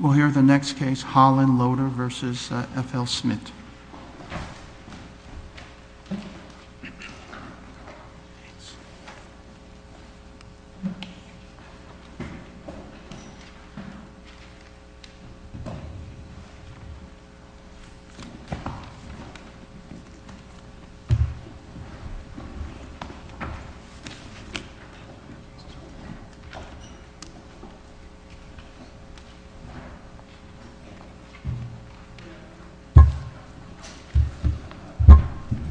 We'll hear the next case, Holland Loader v. F.L. Smith.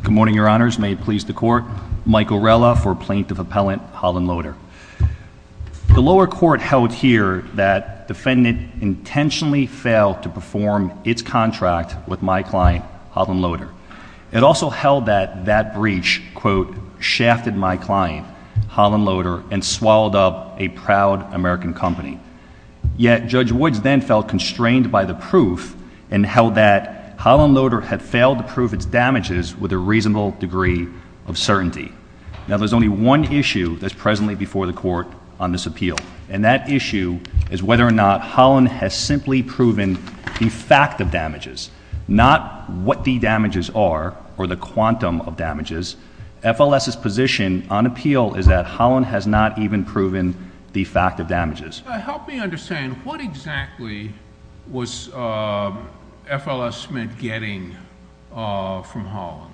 Good morning, Your Honors. May it please the Court. Mike Orella for Plaintiff Appellant, Holland Loader. The lower court held here that defendant intentionally failed to perform its contract with my client, Holland Loader. It also held that that breach, quote, shafted my client, Holland Loader, and swallowed up a proud American company. Yet Judge Woods then felt constrained by the proof and held that Holland Loader had failed to prove its damages with a reasonable degree of certainty. Now there's only one issue that's presently before the Court on this appeal, and that issue is whether or not Holland has simply proven the fact of damages, not what the damages are or the quantum of damages. F.L.S.'s position on appeal is that Holland has not even proven the fact of damages. Help me understand. What exactly was F.L.S. Smith getting from Holland?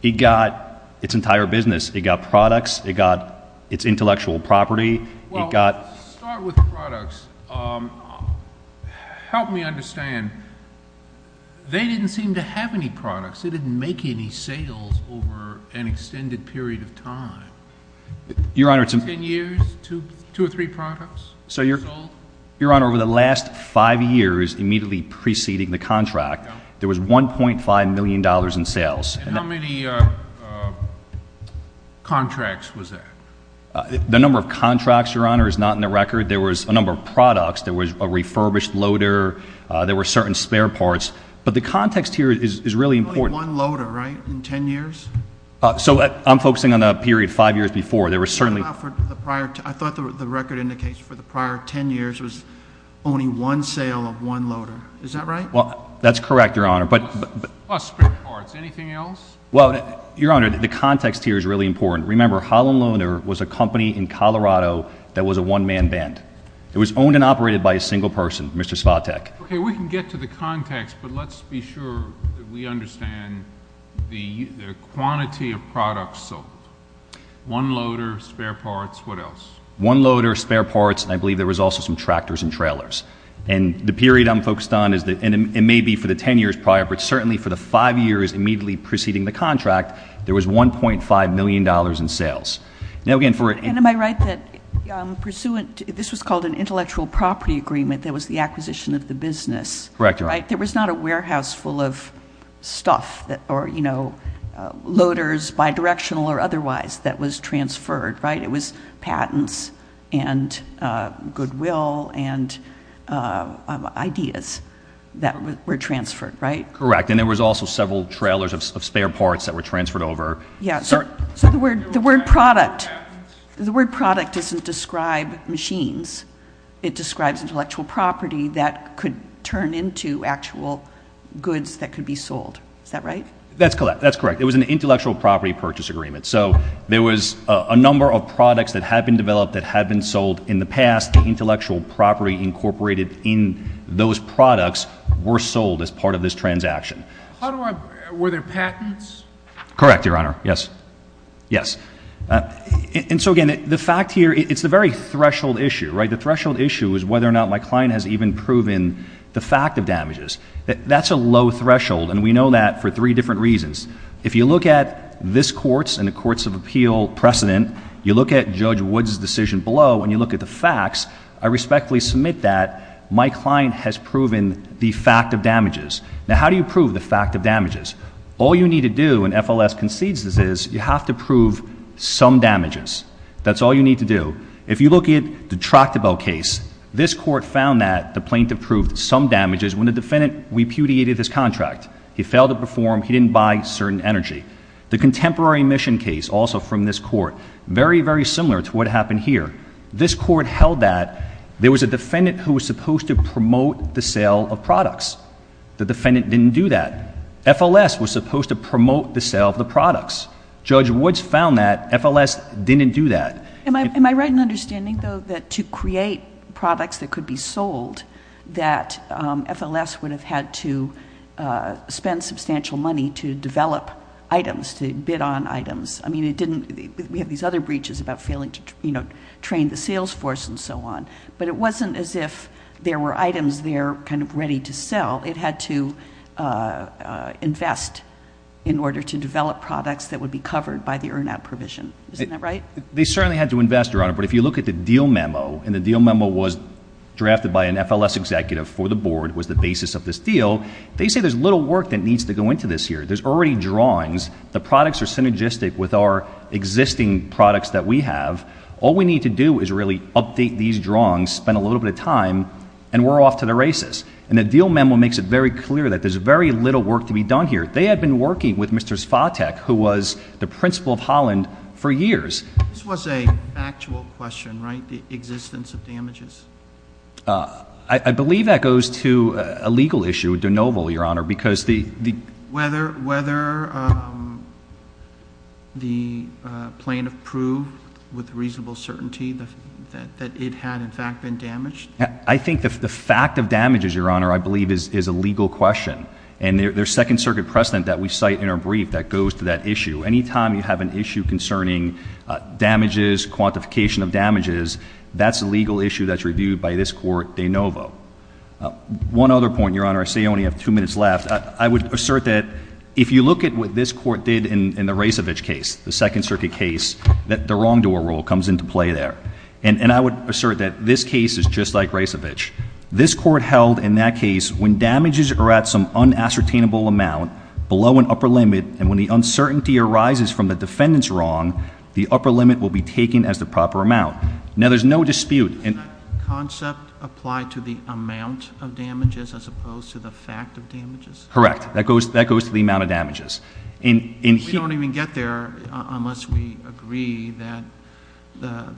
He got its entire business. He got products. He got its intellectual property. Well, let's start with the products. Help me understand. They didn't seem to have any products. They didn't make any sales over an extended period of time. Your Honor, it's a— Ten years? Two or three products? Sold? Your Honor, over the last five years immediately preceding the contract, there was $1.5 million in sales. And how many contracts was that? The number of contracts, Your Honor, is not in the record. There was a number of products. There was a refurbished loader. There were certain spare parts. But the context here is really important. Only one loader, right? In ten years? So, I'm focusing on the period five years before. There were certainly— I thought the record indicates for the prior ten years there was only one sale of one loader. Is that right? That's correct, Your Honor. But— Plus spare parts. Anything else? Well, Your Honor, the context here is really important. Remember, Holland Loader was a company in Colorado that was a one-man band. It was owned and operated by a single person, Mr. Svatek. Okay, we can get to the context, but let's be sure that we understand the quantity of products sold. One loader, spare parts, what else? One loader, spare parts, and I believe there was also some tractors and trailers. And the period I'm focused on is—and it may be for the ten years prior, but certainly for the five years immediately preceding the contract, there was $1.5 million in sales. Now again, for— And am I right that pursuant—this was called an intellectual property agreement that was the acquisition of the business? Correct, Your Honor. Right? There was not a warehouse full of stuff that—or, you know, loaders, bi-directional or otherwise, that was transferred, right? It was patents and goodwill and ideas that were transferred, right? Correct. And there was also several trailers of spare parts that were transferred over. Yeah, so the word product—the word product doesn't describe machines. It describes intellectual property that could turn into actual goods that could be sold. Is that right? That's correct. That's correct. It was an intellectual property purchase agreement. So there was a number of products that had been developed that had been sold in the past. The intellectual property incorporated in those products were sold as part of this transaction. How do I—were there patents? Correct, Your Honor. Yes. Yes. And so, again, the fact here—it's the very threshold issue, right? The threshold issue is whether or not my client has even proven the fact of damages. That's a low threshold, and we know that for three different reasons. If you look at this Court's and the Courts of Appeal precedent, you look at Judge Woods' decision below, and you look at the facts, I respectfully submit that my client has proven the fact of damages. Now, how do you prove the fact of damages? All you need to do, and FLS concedes this is, you have to prove some damages. That's all you need to do. If you look at the Tractable case, this Court found that the plaintiff proved some damages when the defendant repudiated his contract. He failed to perform. He didn't buy certain energy. The Contemporary Mission case, also from this Court, very, very similar to what happened here. This Court held that there was a defendant who was supposed to promote the sale of products. The defendant didn't do that. FLS was supposed to promote the sale of the products. Judge Woods found that FLS didn't do that. Am I right in understanding, though, that to create products that could be sold, that FLS would have had to spend substantial money to develop items, to bid on items? I mean, it didn't, we have these other breaches about failing to train the sales force and so on, but it wasn't as if there were items there kind of ready to sell. It had to invest in order to develop products that would be covered by the earn-out provision. Isn't that right? They certainly had to invest, Your Honor, but if you look at the deal memo, and the deal memo was drafted by an FLS executive for the Board, was the basis of this deal, they say there's little work that needs to go into this here. There's already drawings. The products are synergistic with our existing products that we have. All we need to do is really update these drawings, spend a little bit of time, and we're off to the races. And the deal memo makes it very clear that there's very little work to be done here. They had been working with Mr. Svatek, who was the principal of Holland, for years. This was an actual question, right, the existence of damages? I believe that goes to a legal issue, de novo, Your Honor, because the— Whether the plaintiff proved with reasonable certainty that it had, in fact, been damaged? I think the fact of damages, Your Honor, I believe is a legal question. And there's Second Circuit precedent that we cite in our brief that goes to that issue. Any time you have an issue concerning damages, quantification of damages, that's a legal issue that's reviewed by this Court, de novo. One other point, Your Honor, I see I only have two minutes left. I would assert that if you look at what this Court did in the Rasevich case, the Second Circuit case, that the wrongdoer rule comes into play there. And I would assert that this case is just like Rasevich. This Court held in that case when damages are at some unassertainable amount, below an upper limit, and when the uncertainty arises from the defendant's wrong, the upper limit will be taken as the proper amount. Now there's no dispute— Does that concept apply to the amount of damages as opposed to the fact of damages? Correct. That goes to the amount of damages. We don't even get there unless we agree that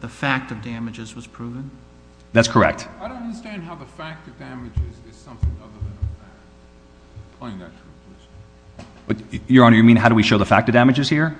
the fact of damages was proven? That's correct. I don't understand how the fact of damages is something other than a fact. Your Honor, you mean how do we show the fact of damages here?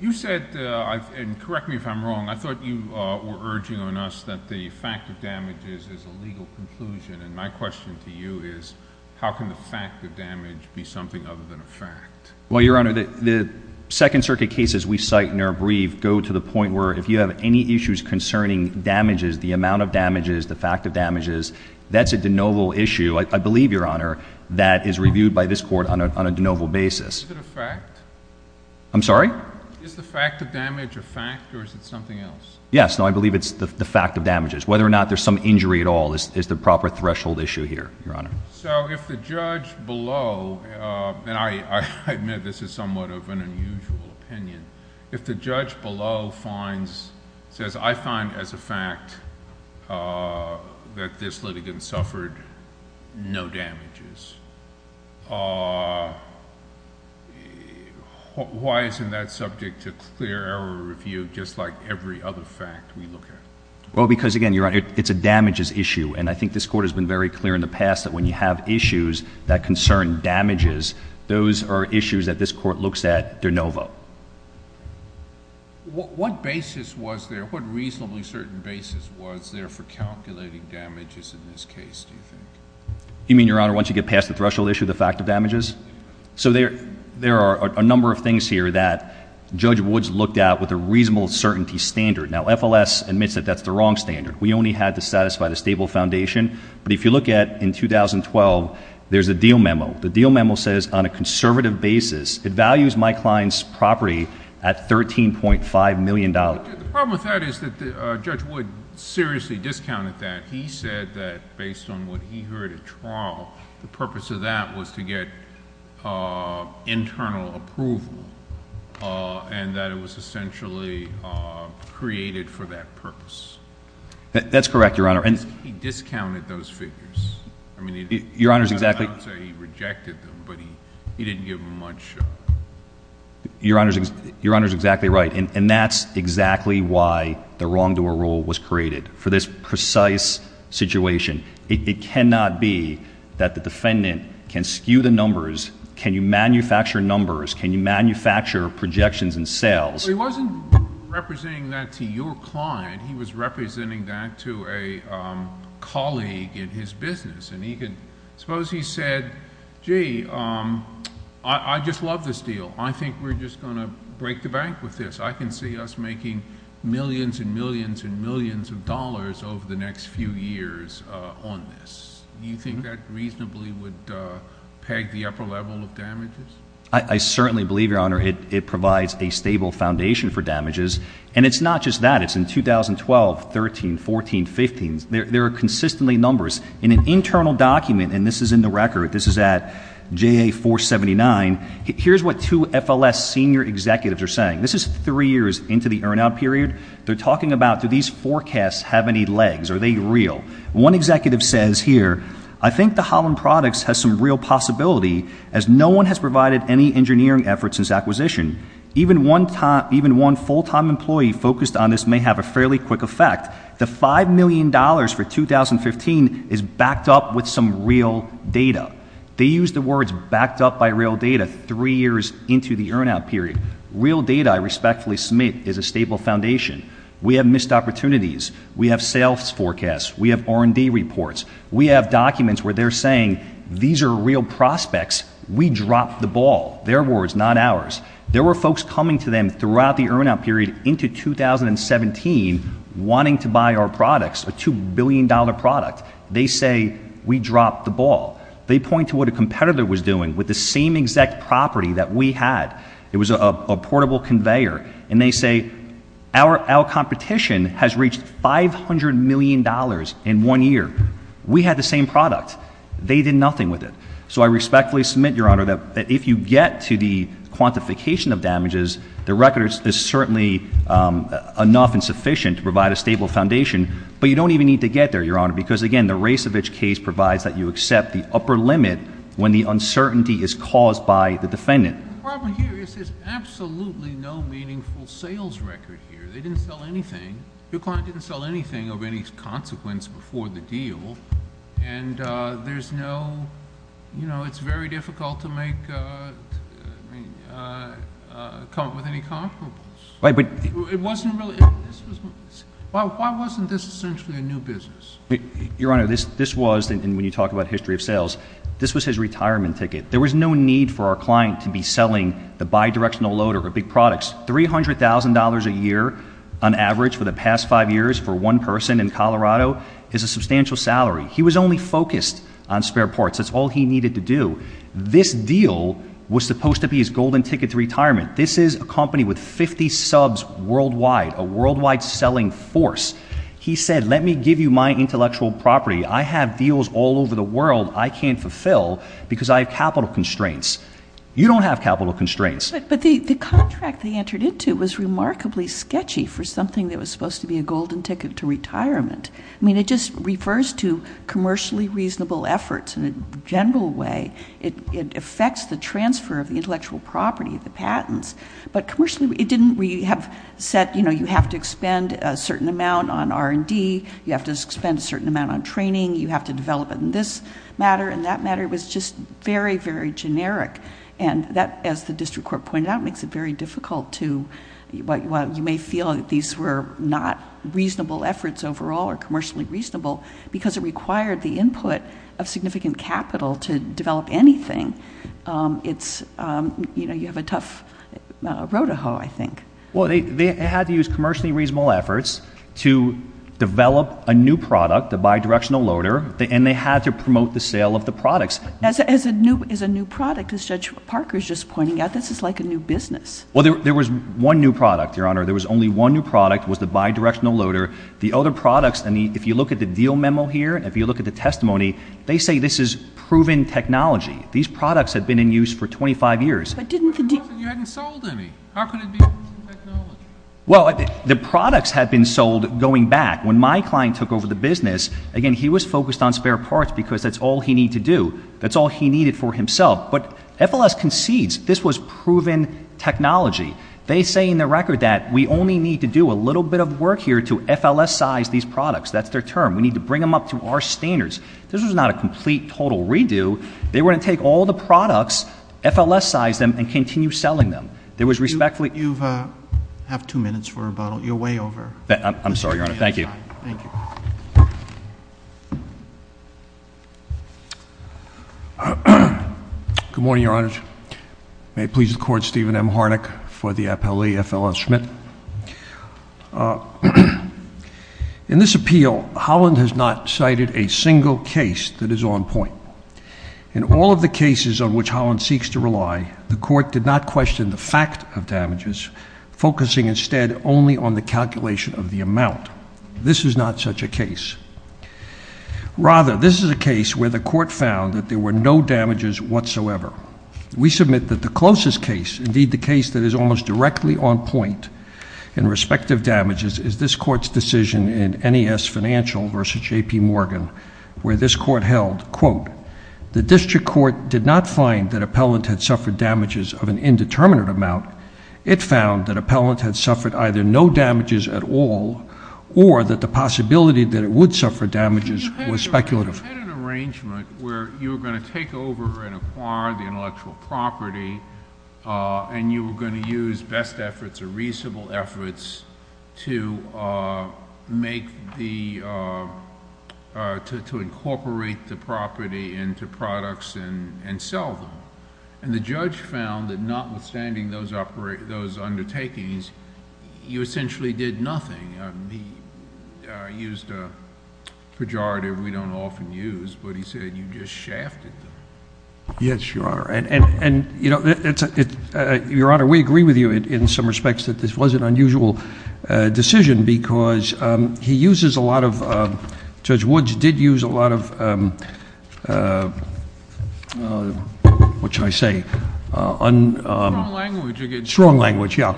You said, and correct me if I'm wrong, I thought you were urging on us that the fact of damages is a legal conclusion, and my question to you is how can the fact of damage be something other than a fact? Well, Your Honor, the Second Circuit cases we cite in our brief go to the point where if you have any issues concerning damages, the amount of damages, the fact of damages, that's a de novo issue, I believe, Your Honor, that is reviewed by this Court on a de novo basis. Is it a fact? I'm sorry? Is the fact of damage a fact or is it something else? Yes, no, I believe it's the fact of damages. Whether or not there's some injury at all is the proper threshold issue here, Your Honor. So if the judge below, and I admit this is somewhat of an unusual opinion, if the judge below says, I find as a fact that this litigant suffered no damages, why isn't that subject to clear error review just like every other fact we look at? Well, because again, Your Honor, it's a damages issue, and I think this Court has been very clear in the past that when you have issues that concern damages, those are issues that this Court looks at de novo. What basis was there, what reasonably certain basis was there for calculating damages in this case, do you think? You mean, Your Honor, once you get past the threshold issue, the fact of damages? So there are a number of things here that Judge Woods looked at with a reasonable certainty standard. Now, FLS admits that that's the wrong standard. We only had to satisfy the stable foundation, but if you look at in 2012, there's a deal memo. The deal memo says on a conservative basis, it values my client's property at $13.5 million. The problem with that is that Judge Woods seriously discounted that. He said that based on what he heard at trial, the purpose of that was to get internal approval and that it was essentially created for that purpose. That's correct, Your Honor. He discounted those figures. I mean, he did not say he rejected them, but he didn't give them much. Your Honor is exactly right, and that's exactly why the wrongdoer rule was created. For this precise situation, it cannot be that the defendant can skew the numbers. Can you manufacture numbers? Can you manufacture projections and sales? But he wasn't representing that to your client. He was representing that to a colleague in his business, and suppose he said, gee, I just love this deal. I think we're just going to break the bank with this. I can see us making millions and millions and millions of dollars over the next few years on this. Do you think that reasonably would peg the upper level of damages? I certainly believe, Your Honor, it provides a stable foundation for damages. And it's not just that. It's in 2012, 13, 14, 15. There are consistently numbers. In an internal document, and this is in the record, this is at JA 479, here's what two FLS senior executives are saying. This is three years into the earn-out period. They're talking about do these forecasts have any legs? Are they real? One executive says here, I think the Holland Products has some real possibility as no one has provided any engineering efforts since acquisition. Even one full-time employee focused on this may have a fairly quick effect. The $5 million for 2015 is backed up with some real data. They use the words backed up by real data three years into the earn-out period. Real data, I respectfully submit, is a stable foundation. We have missed opportunities. We have sales forecasts. We have R&D reports. We have documents where they're saying these are real prospects. We dropped the ball. Their words, not ours. There were folks coming to them throughout the earn-out period into 2017 wanting to buy our products, a $2 billion product. They say, we dropped the ball. They point to what a competitor was doing with the same exact property that we had. It was a portable conveyor. And they say, our competition has reached $500 million in one year. We had the same product. They did nothing with it. So I respectfully submit, Your Honor, that if you get to the quantification of damages, the record is certainly enough and sufficient to provide a stable foundation. But you don't even need to get there, Your Honor, because again, the Rasevich case provides that you accept the upper limit when the uncertainty is caused by the defendant. The problem here is there's absolutely no meaningful sales record here. They didn't sell anything. Your client didn't sell anything of any consequence before the deal. And it's very difficult to make, I mean, come up with any comparables. It wasn't really, why wasn't this essentially a new business? Your Honor, this was, and when you talk about history of sales, this was his retirement ticket. There was no need for our client to be selling the bidirectional loader of big products. $300,000 a year on average for the past five years for one person in Colorado is a substantial salary. He was only focused on spare parts. That's all he needed to do. This deal was supposed to be his golden ticket to retirement. This is a company with 50 subs worldwide, a worldwide selling force. He said, let me give you my intellectual property. I have deals all over the world I can't fulfill because I have capital constraints. You don't have capital constraints. But the contract they entered into was remarkably sketchy for something that was supposed to be a golden ticket to retirement. I mean, it just refers to commercially reasonable efforts in a general way. It affects the transfer of the intellectual property, the patents. But commercially, it didn't really have set, you have to expend a certain amount on R&D. You have to expend a certain amount on training. You have to develop it in this matter and that matter was just very, very generic. And that, as the district court pointed out, makes it very difficult to, while you may feel that these were not reasonable efforts overall or commercially reasonable, because it required the input of significant capital to develop anything. It's, you have a tough road to hoe, I think. Well, they had to use commercially reasonable efforts to develop a new product, the bi-directional loader, and they had to promote the sale of the products. As a new product, as Judge Parker's just pointing out, this is like a new business. Well, there was one new product, Your Honor. There was only one new product, was the bi-directional loader. The other products, if you look at the deal memo here, if you look at the testimony, they say this is proven technology. These products have been in use for 25 years. But didn't the- You hadn't sold any. How could it be proven technology? Well, the products had been sold going back. When my client took over the business, again, he was focused on spare parts because that's all he needed to do. That's all he needed for himself. But FLS concedes this was proven technology. They say in their record that we only need to do a little bit of work here to FLS size these products. That's their term. We need to bring them up to our standards. This was not a complete, total redo. They were going to take all the products, FLS size them, and continue selling them. There was respectfully- You have two minutes for rebuttal. You're way over. I'm sorry, Your Honor. Thank you. Good morning, Your Honor. May it please the court, Stephen M. Harnick for the appellee, FLS Schmidt. In this appeal, Holland has not cited a single case that is on point. In all of the cases on which Holland seeks to rely, the court did not question the fact of damages, focusing instead only on the calculation of the amount. This is not such a case. Rather, this is a case where the court found that there were no damages whatsoever. We submit that the closest case, indeed the case that is almost directly on point in respective damages, is this court's decision in NES Financial versus JP Morgan, where this court held, quote, the district court did not find that appellant had suffered damages of an indeterminate amount. It found that appellant had suffered either no damages at all, or that the possibility that it would suffer damages was speculative. You had an arrangement where you were going to take over and acquire the intellectual property, and you were going to use best efforts or reasonable efforts to make the, to incorporate the property into products and sell them. And the judge found that notwithstanding those undertakings, you essentially did nothing. He used a pejorative we don't often use, but he said you just shafted them. Yes, Your Honor, and Your Honor, we agree with you in some respects that this was an unusual decision, because he uses a lot of, Judge Woods did use a lot of which I say, strong language, yeah,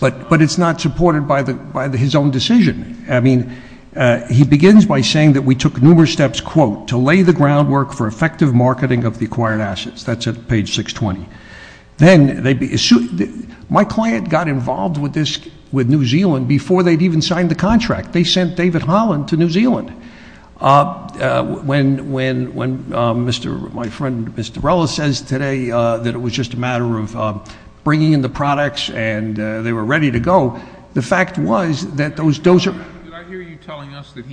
but it's not supported by his own decision. I mean, he begins by saying that we took numerous steps, quote, to lay the groundwork for effective marketing of the acquired assets. That's at page 620. Then, my client got involved with New Zealand before they'd even signed the contract. They sent David Holland to New Zealand. When my friend, Mr. Rella, says today that it was just a matter of bringing in the products and they were ready to go, the fact was that those dozer- Did I hear you telling us that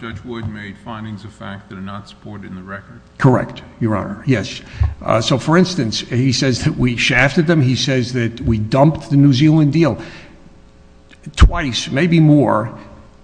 Judge Wood made findings of fact that are not supported in the record? Correct, Your Honor, yes. So, for instance, he says that we shafted them. He says that we dumped the New Zealand deal twice, maybe more,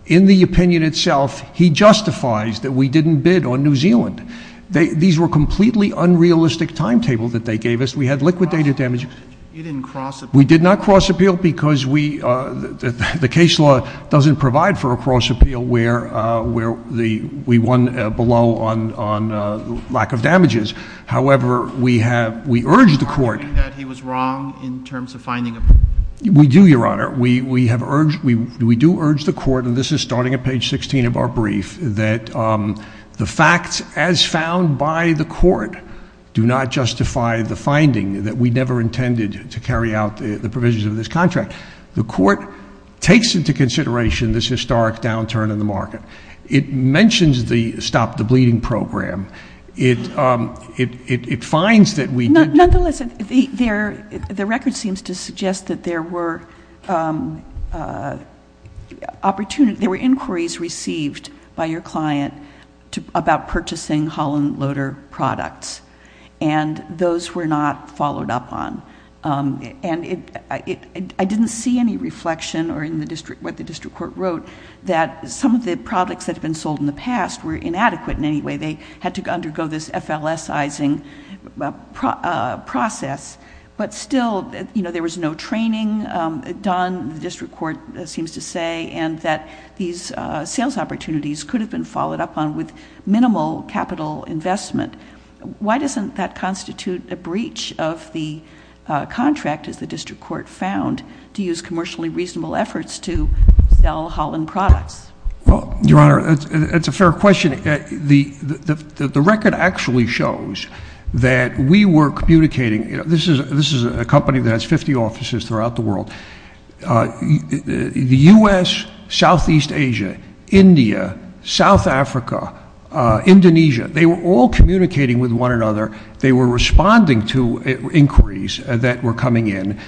in the opinion itself, he justifies that we didn't bid on New Zealand. These were completely unrealistic timetables that they gave us. We had liquidated damages. You didn't cross appeal. We did not cross appeal because the case law doesn't provide for a cross appeal where we won below on lack of damages. However, we urge the court- Are you arguing that he was wrong in terms of finding a- We do, Your Honor. We do urge the court, and this is starting at page 16 of our brief, that the facts as found by the court do not justify the finding that we never intended to carry out the provisions of this contract. The court takes into consideration this historic downturn in the market. It mentions the Stop the Bleeding program. It finds that we did- Nonetheless, the record seems to suggest that there were inquiries received by your client about purchasing Holland Loader products, and those were not followed up on. I didn't see any reflection or in what the district court wrote that some of the products that have been sold in the past were inadequate in any way. They had to undergo this FLS-izing process, but still there was no training done, the district court seems to say, and that these sales opportunities could have been followed up on with minimal capital investment. Why doesn't that constitute a breach of the contract, as the district court found, to use commercially reasonable efforts to sell Holland products? Well, Your Honor, that's a fair question. The record actually shows that we were communicating- This is a company that has 50 offices throughout the world. The U.S., Southeast Asia, India, South Africa, Indonesia, they were all communicating with one another. They were responding to inquiries that were coming in.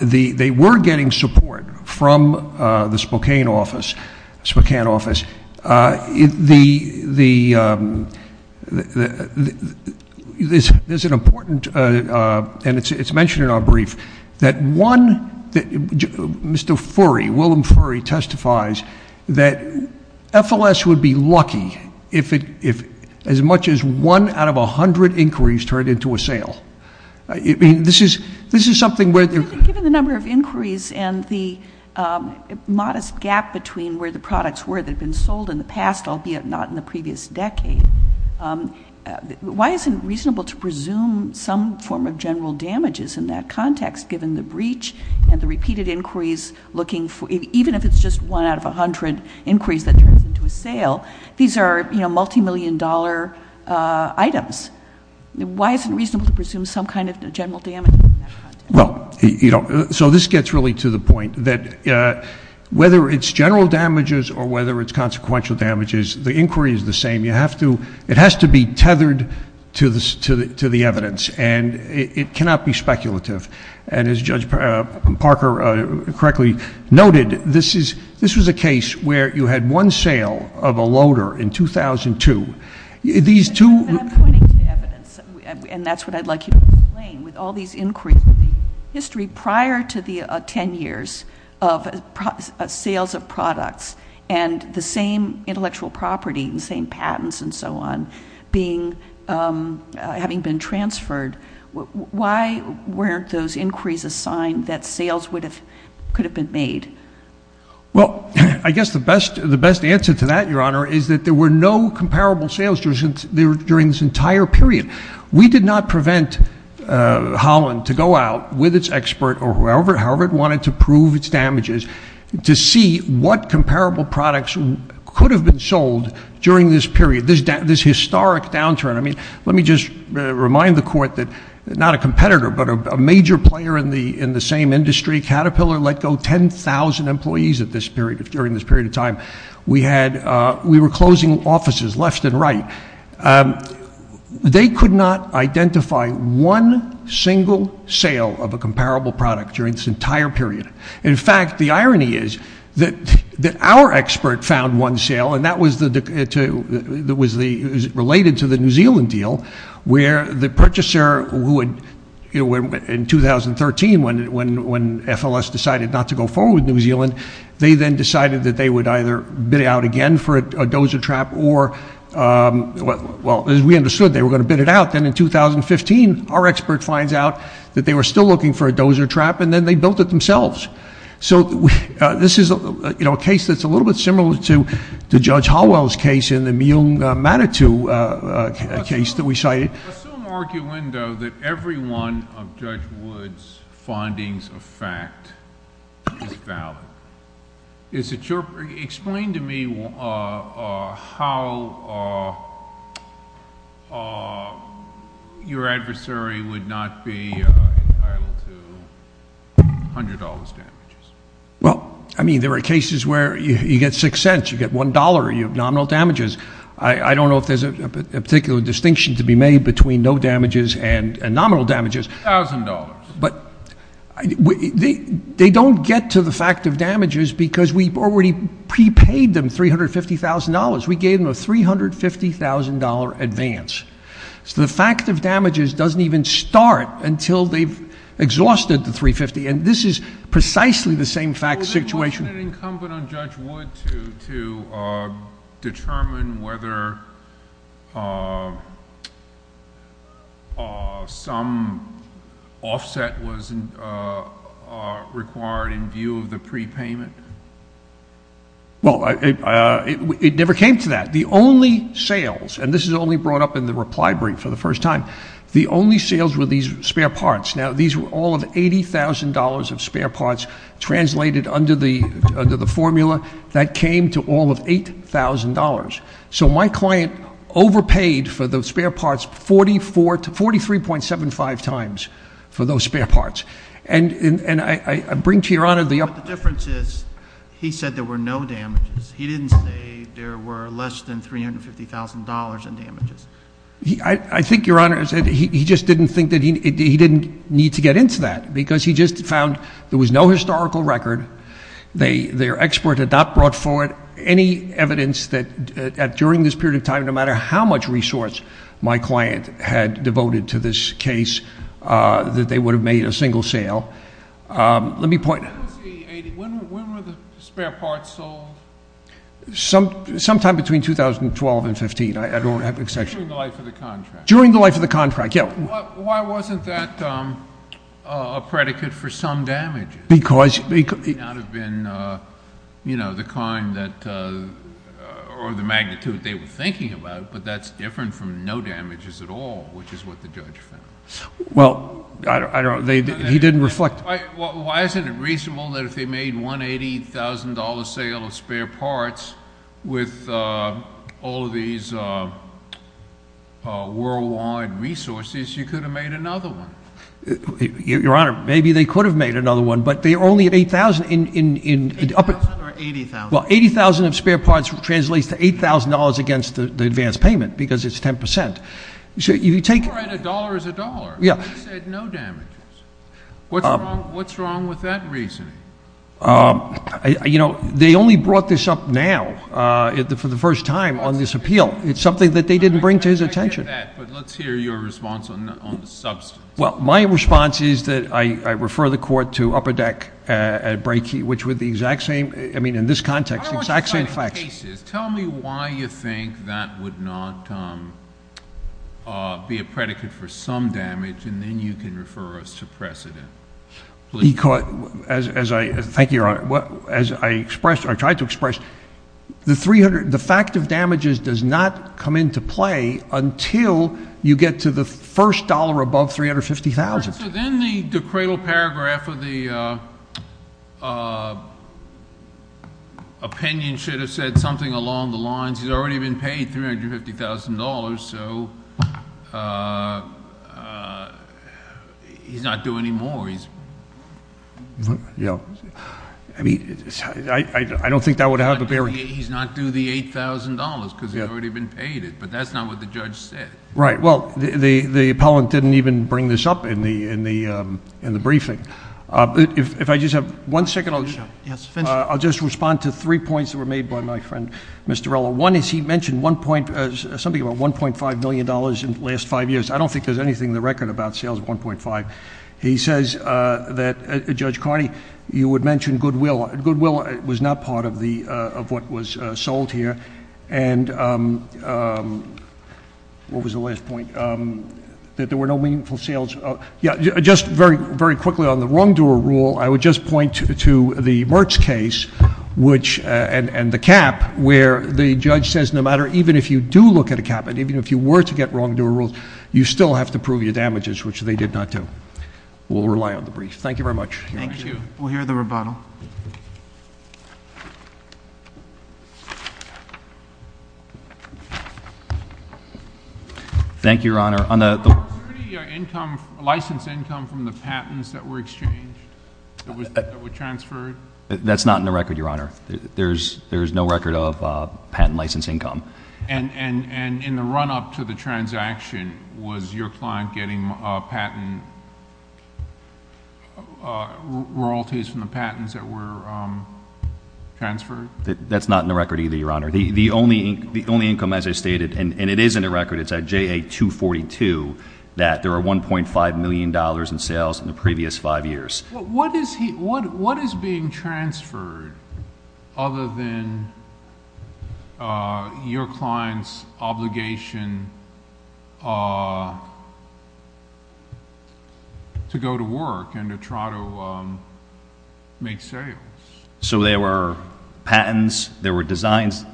They were getting support from the Spokane office. There's an important- and it's mentioned in our brief- that one- Mr. Furry, Willem Furry testifies that FLS would be lucky if as much as one out of 100 inquiries turned into a sale. Given the number of inquiries and the modest gap between where the products were that have been sold in the past, albeit not in the previous decade, why isn't it reasonable to presume some form of general damages in that context, given the breach and the repeated inquiries looking for- even if it's just one out of 100 inquiries that turns into a sale, these are multimillion dollar items. Why isn't it reasonable to presume some kind of general damage in that context? Well, you know, so this gets really to the point that whether it's general damages or whether it's consequential damages, the inquiry is the same. You have to- it has to be tethered to the evidence, and it cannot be speculative, and as Judge Parker correctly noted, this is- this was a case where you had one sale of a loader in 2002. These two- And I'm pointing to evidence, and that's what I'd like you to explain. With all these inquiries in the history prior to the 10 years of sales of products and the same intellectual property and same patents and so on being- having been transferred, why weren't those inquiries a sign that sales would have- could have been made? Well, I guess the best- the best answer to that, Your Honor, is that there were no comparable sales during this entire period. We did not prevent Holland to go out with its expert or whoever- however it wanted to prove its damages to see what comparable products could have been sold during this period, this historic downturn. I mean, let me just remind the Court that not a competitor, but a major player in the same industry, Caterpillar, let go 10,000 employees at this period- during this period of time. We had- we were closing offices left and right. They could not identify one single sale of a comparable product during this entire period. In fact, the irony is that our expert found one sale, and that was the- that was the- it was related to the New Zealand deal, where the purchaser would- in 2013, when FLS decided not to go forward with New Zealand, they then decided that they would either bid out again for a dozer trap or- well, as we understood, they were going to bid it out. Then in 2015, our expert finds out that they were still looking for a dozer trap, and then they built it themselves. So this is a case that's a little bit similar to Judge Hallwell's case in the Mium Matatu case that we cited. Assume arguendo that every one of Judge Wood's findings of fact is valid. Is it your- explain to me how your adversary would not be entitled to $100 damages? Well, I mean, there are cases where you get 6 cents, you get $1, you have nominal damages, I don't know if there's a particular distinction to be made between no damages and nominal damages. $1,000. But they don't get to the fact of damages because we've already prepaid them $350,000. We gave them a $350,000 advance. So the fact of damages doesn't even start until they've exhausted the $350,000. And this is precisely the same fact situation. Wasn't it incumbent on Judge Wood to determine whether some offset was required in view of the prepayment? Well, it never came to that. The only sales, and this is only brought up in the reply brief for the first time, the only sales were these spare parts. Now, these were all of $80,000 of spare parts translated under the formula. That came to all of $8,000. So my client overpaid for those spare parts 43.75 times for those spare parts. And I bring to your honor the- But the difference is, he said there were no damages. He didn't say there were less than $350,000 in damages. I think your honor, he just didn't think that he didn't need to get into that because he just found there was no historical record. Their expert had not brought forward any evidence that during this period of time, no matter how much resource my client had devoted to this case, that they would have made a single sale. Let me point- When was the 80, when were the spare parts sold? Sometime between 2012 and 15. I don't have an exception. During the life of the contract. During the life of the contract, yeah. Why wasn't that a predicate for some damages? Because- It may not have been the kind that, or the magnitude they were thinking about, but that's different from no damages at all, which is what the judge found. Well, I don't know. He didn't reflect- Why isn't it reasonable that if they made $180,000 sale of spare parts with all of these worldwide resources, you could have made another one? Your Honor, maybe they could have made another one, but they only had 8,000 in- 8,000 or 80,000? Well, 80,000 of spare parts translates to $8,000 against the advance payment because it's 10%. You're right, a dollar is a dollar. Yeah. They said no damages. What's wrong with that reasoning? They only brought this up now for the first time on this appeal. It's something that they didn't bring to his attention. I get that, but let's hear your response on the substance. Well, my response is that I refer the court to Upper Deck at Brakey, which would be the exact same, I mean, in this context, exact same facts. I don't want you fighting cases. Tell me why you think that would not be a predicate for some damage, and then you can refer us to precedent, please. Thank you, Your Honor. As I tried to express, the fact of damages does not come into play until you get to the first dollar above $350,000. Then the cradle paragraph of the opinion should have said something along the lines, he's already been paid $350,000, so he's not due anymore. Yeah. I mean, I don't think that would have a bearing... He's not due the $8,000 because he's already been paid it, but that's not what the judge said. Right. Well, the appellant didn't even bring this up in the briefing. If I just have one second, I'll just respond to three points that were made by my friend, Mr. Rella. One is he mentioned something about $1.5 million in the last five years. I don't think there's anything in the record about sales of $1.5. He says that, Judge Carney, you would mention goodwill. Goodwill was not part of what was sold here. And what was the last point? That there were no meaningful sales... Yeah, just very quickly on the wrongdoer rule, I would just point to the Mertz case and the cap, where the judge says no matter, even if you do look at a cap and even if you were to get wrongdoer rules, you still have to prove your damages, which they did not do. We'll rely on the brief. Thank you very much. Thank you. We'll hear the rebuttal. Thank you, Your Honor. Was there any license income from the patents that were exchanged, that were transferred? That's not in the record, Your Honor. There's no record of patent license income. And in the run-up to the transaction, was your client getting patent royalties from the patents that were transferred? That's not in the record either, Your Honor. The only income, as I stated, and it is in the record, it's at JA-242, that there were $1.5 million in sales in the previous five years. What is being transferred other than your client's obligation to go to work and to try to make sales? There were patents. There were designs.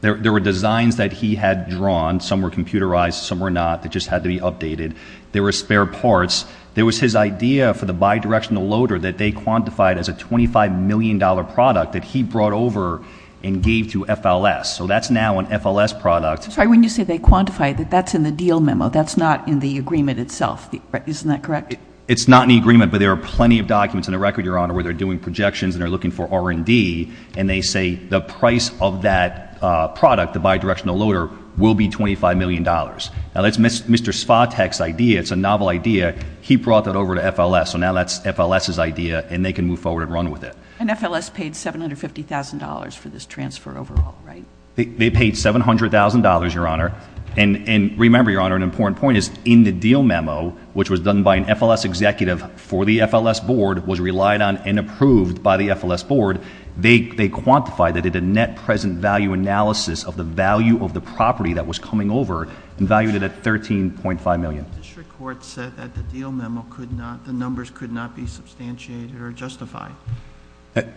There were designs that he had drawn. Some were computerized. Some were not. They just had to be updated. There were spare parts. There was his idea for the bi-directional loader that they quantified as a $25 million product that he brought over and gave to FLS. So that's now an FLS product. I'm sorry. When you say they quantified, that's in the deal memo. That's not in the agreement itself. Isn't that correct? It's not in the agreement, but there are plenty of documents in the record, Your Honor, where they're doing projections and they're looking for R&D, and they say the price of that product, the bi-directional loader, will be $25 million. Now, that's Mr. Svatek's idea. It's a novel idea. He brought that over to FLS. So now that's FLS's idea, and they can move forward and run with it. And FLS paid $750,000 for this transfer overall, right? They paid $700,000, Your Honor. And remember, Your Honor, an important point is in the deal memo, which was done by an FLS executive for the FLS board, was relied on and approved by the FLS board, they quantified it at a net present value analysis of the value of the property that was coming over and valued it at $13.5 million. The district court said that the deal memo could not, the numbers could not be substantiated or justified.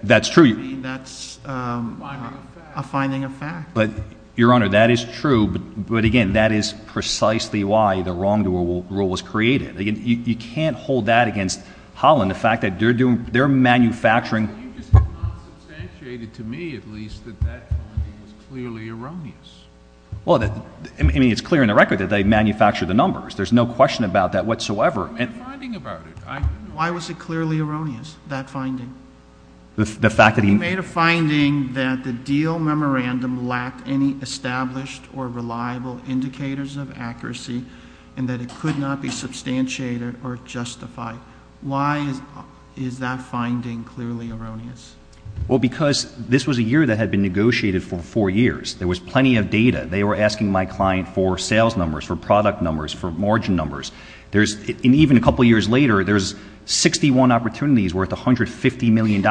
That's true. That's a finding of fact. But, Your Honor, that is true. But, again, that is precisely why the wrongdoer rule was created. You can't hold that against Holland, the fact that they're manufacturing You just have not substantiated to me, at least, that that finding is clearly erroneous. Well, I mean, it's clear in the record that they manufacture the numbers. There's no question about that whatsoever. I made a finding about it. Why was it clearly erroneous, that finding? The fact that he made a finding that the deal memorandum lacked any established or reliable indicators of accuracy and that it could not be substantiated or justified. Why is that finding clearly erroneous? Well, because this was a year that had been negotiated for four years. There was plenty of data. They were asking my client for sales numbers, for product numbers, for margin numbers. And even a couple years later, there's 61 opportunities worth $150 million.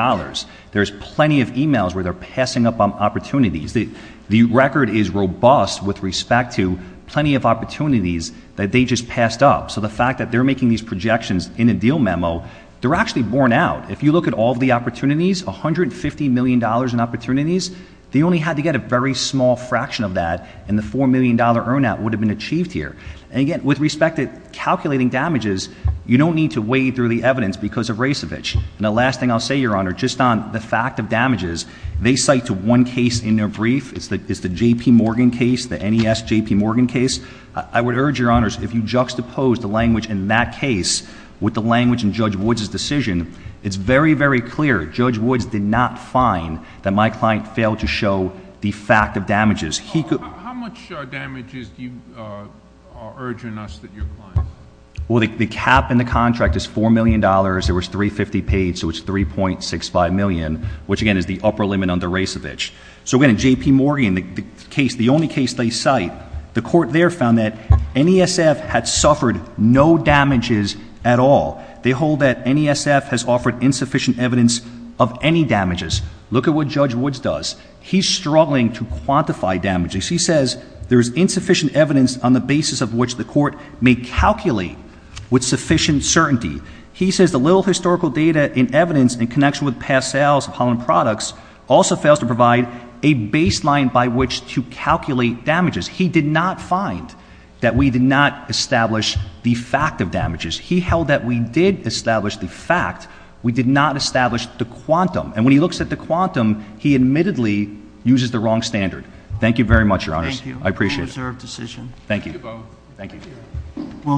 There's plenty of e-mails where they're passing up opportunities. The record is robust with respect to plenty of opportunities that they just passed up. So the fact that they're making these projections in a deal memo, they're actually borne out. If you look at all the opportunities, $150 million in opportunities, they only had to get a very small fraction of that and the $4 million earn out would have been achieved here. And again, with respect to calculating damages, you don't need to wade through the evidence because of Rasevich. And the last thing I'll say, Your Honor, just on the fact of damages, they cite to one case in their brief. It's the JP Morgan case, the NES JP Morgan case. I would urge, Your Honors, if you juxtapose the language in that case with the language in Judge Woods' decision, it's very, very clear. Judge Woods did not find that my client failed to show the fact of damages. How much damages are you urging us that your client? Well, the cap in the contract is $4 million. There was 350 paid, so it's 3.65 million, which, again, is the upper limit under Rasevich. So, again, in JP Morgan, the only case they cite, the court there found that NESF had suffered no damages at all. They hold that NESF has offered insufficient evidence of any damages. Look at what Judge Woods does. He's struggling to quantify damages. He says there's insufficient evidence on the basis of which the court may calculate with sufficient certainty. He says the little historical data and evidence in connection with past sales of Holland Products also fails to provide a baseline by which to calculate damages. He did not find that we did not establish the fact of damages. He held that we did establish the fact. We did not establish the quantum. And when he looks at the quantum, he admittedly uses the wrong standard. Thank you very much, Your Honors. Thank you. I appreciate it. It was a reserved decision. Thank you. Thank you both. Thank you.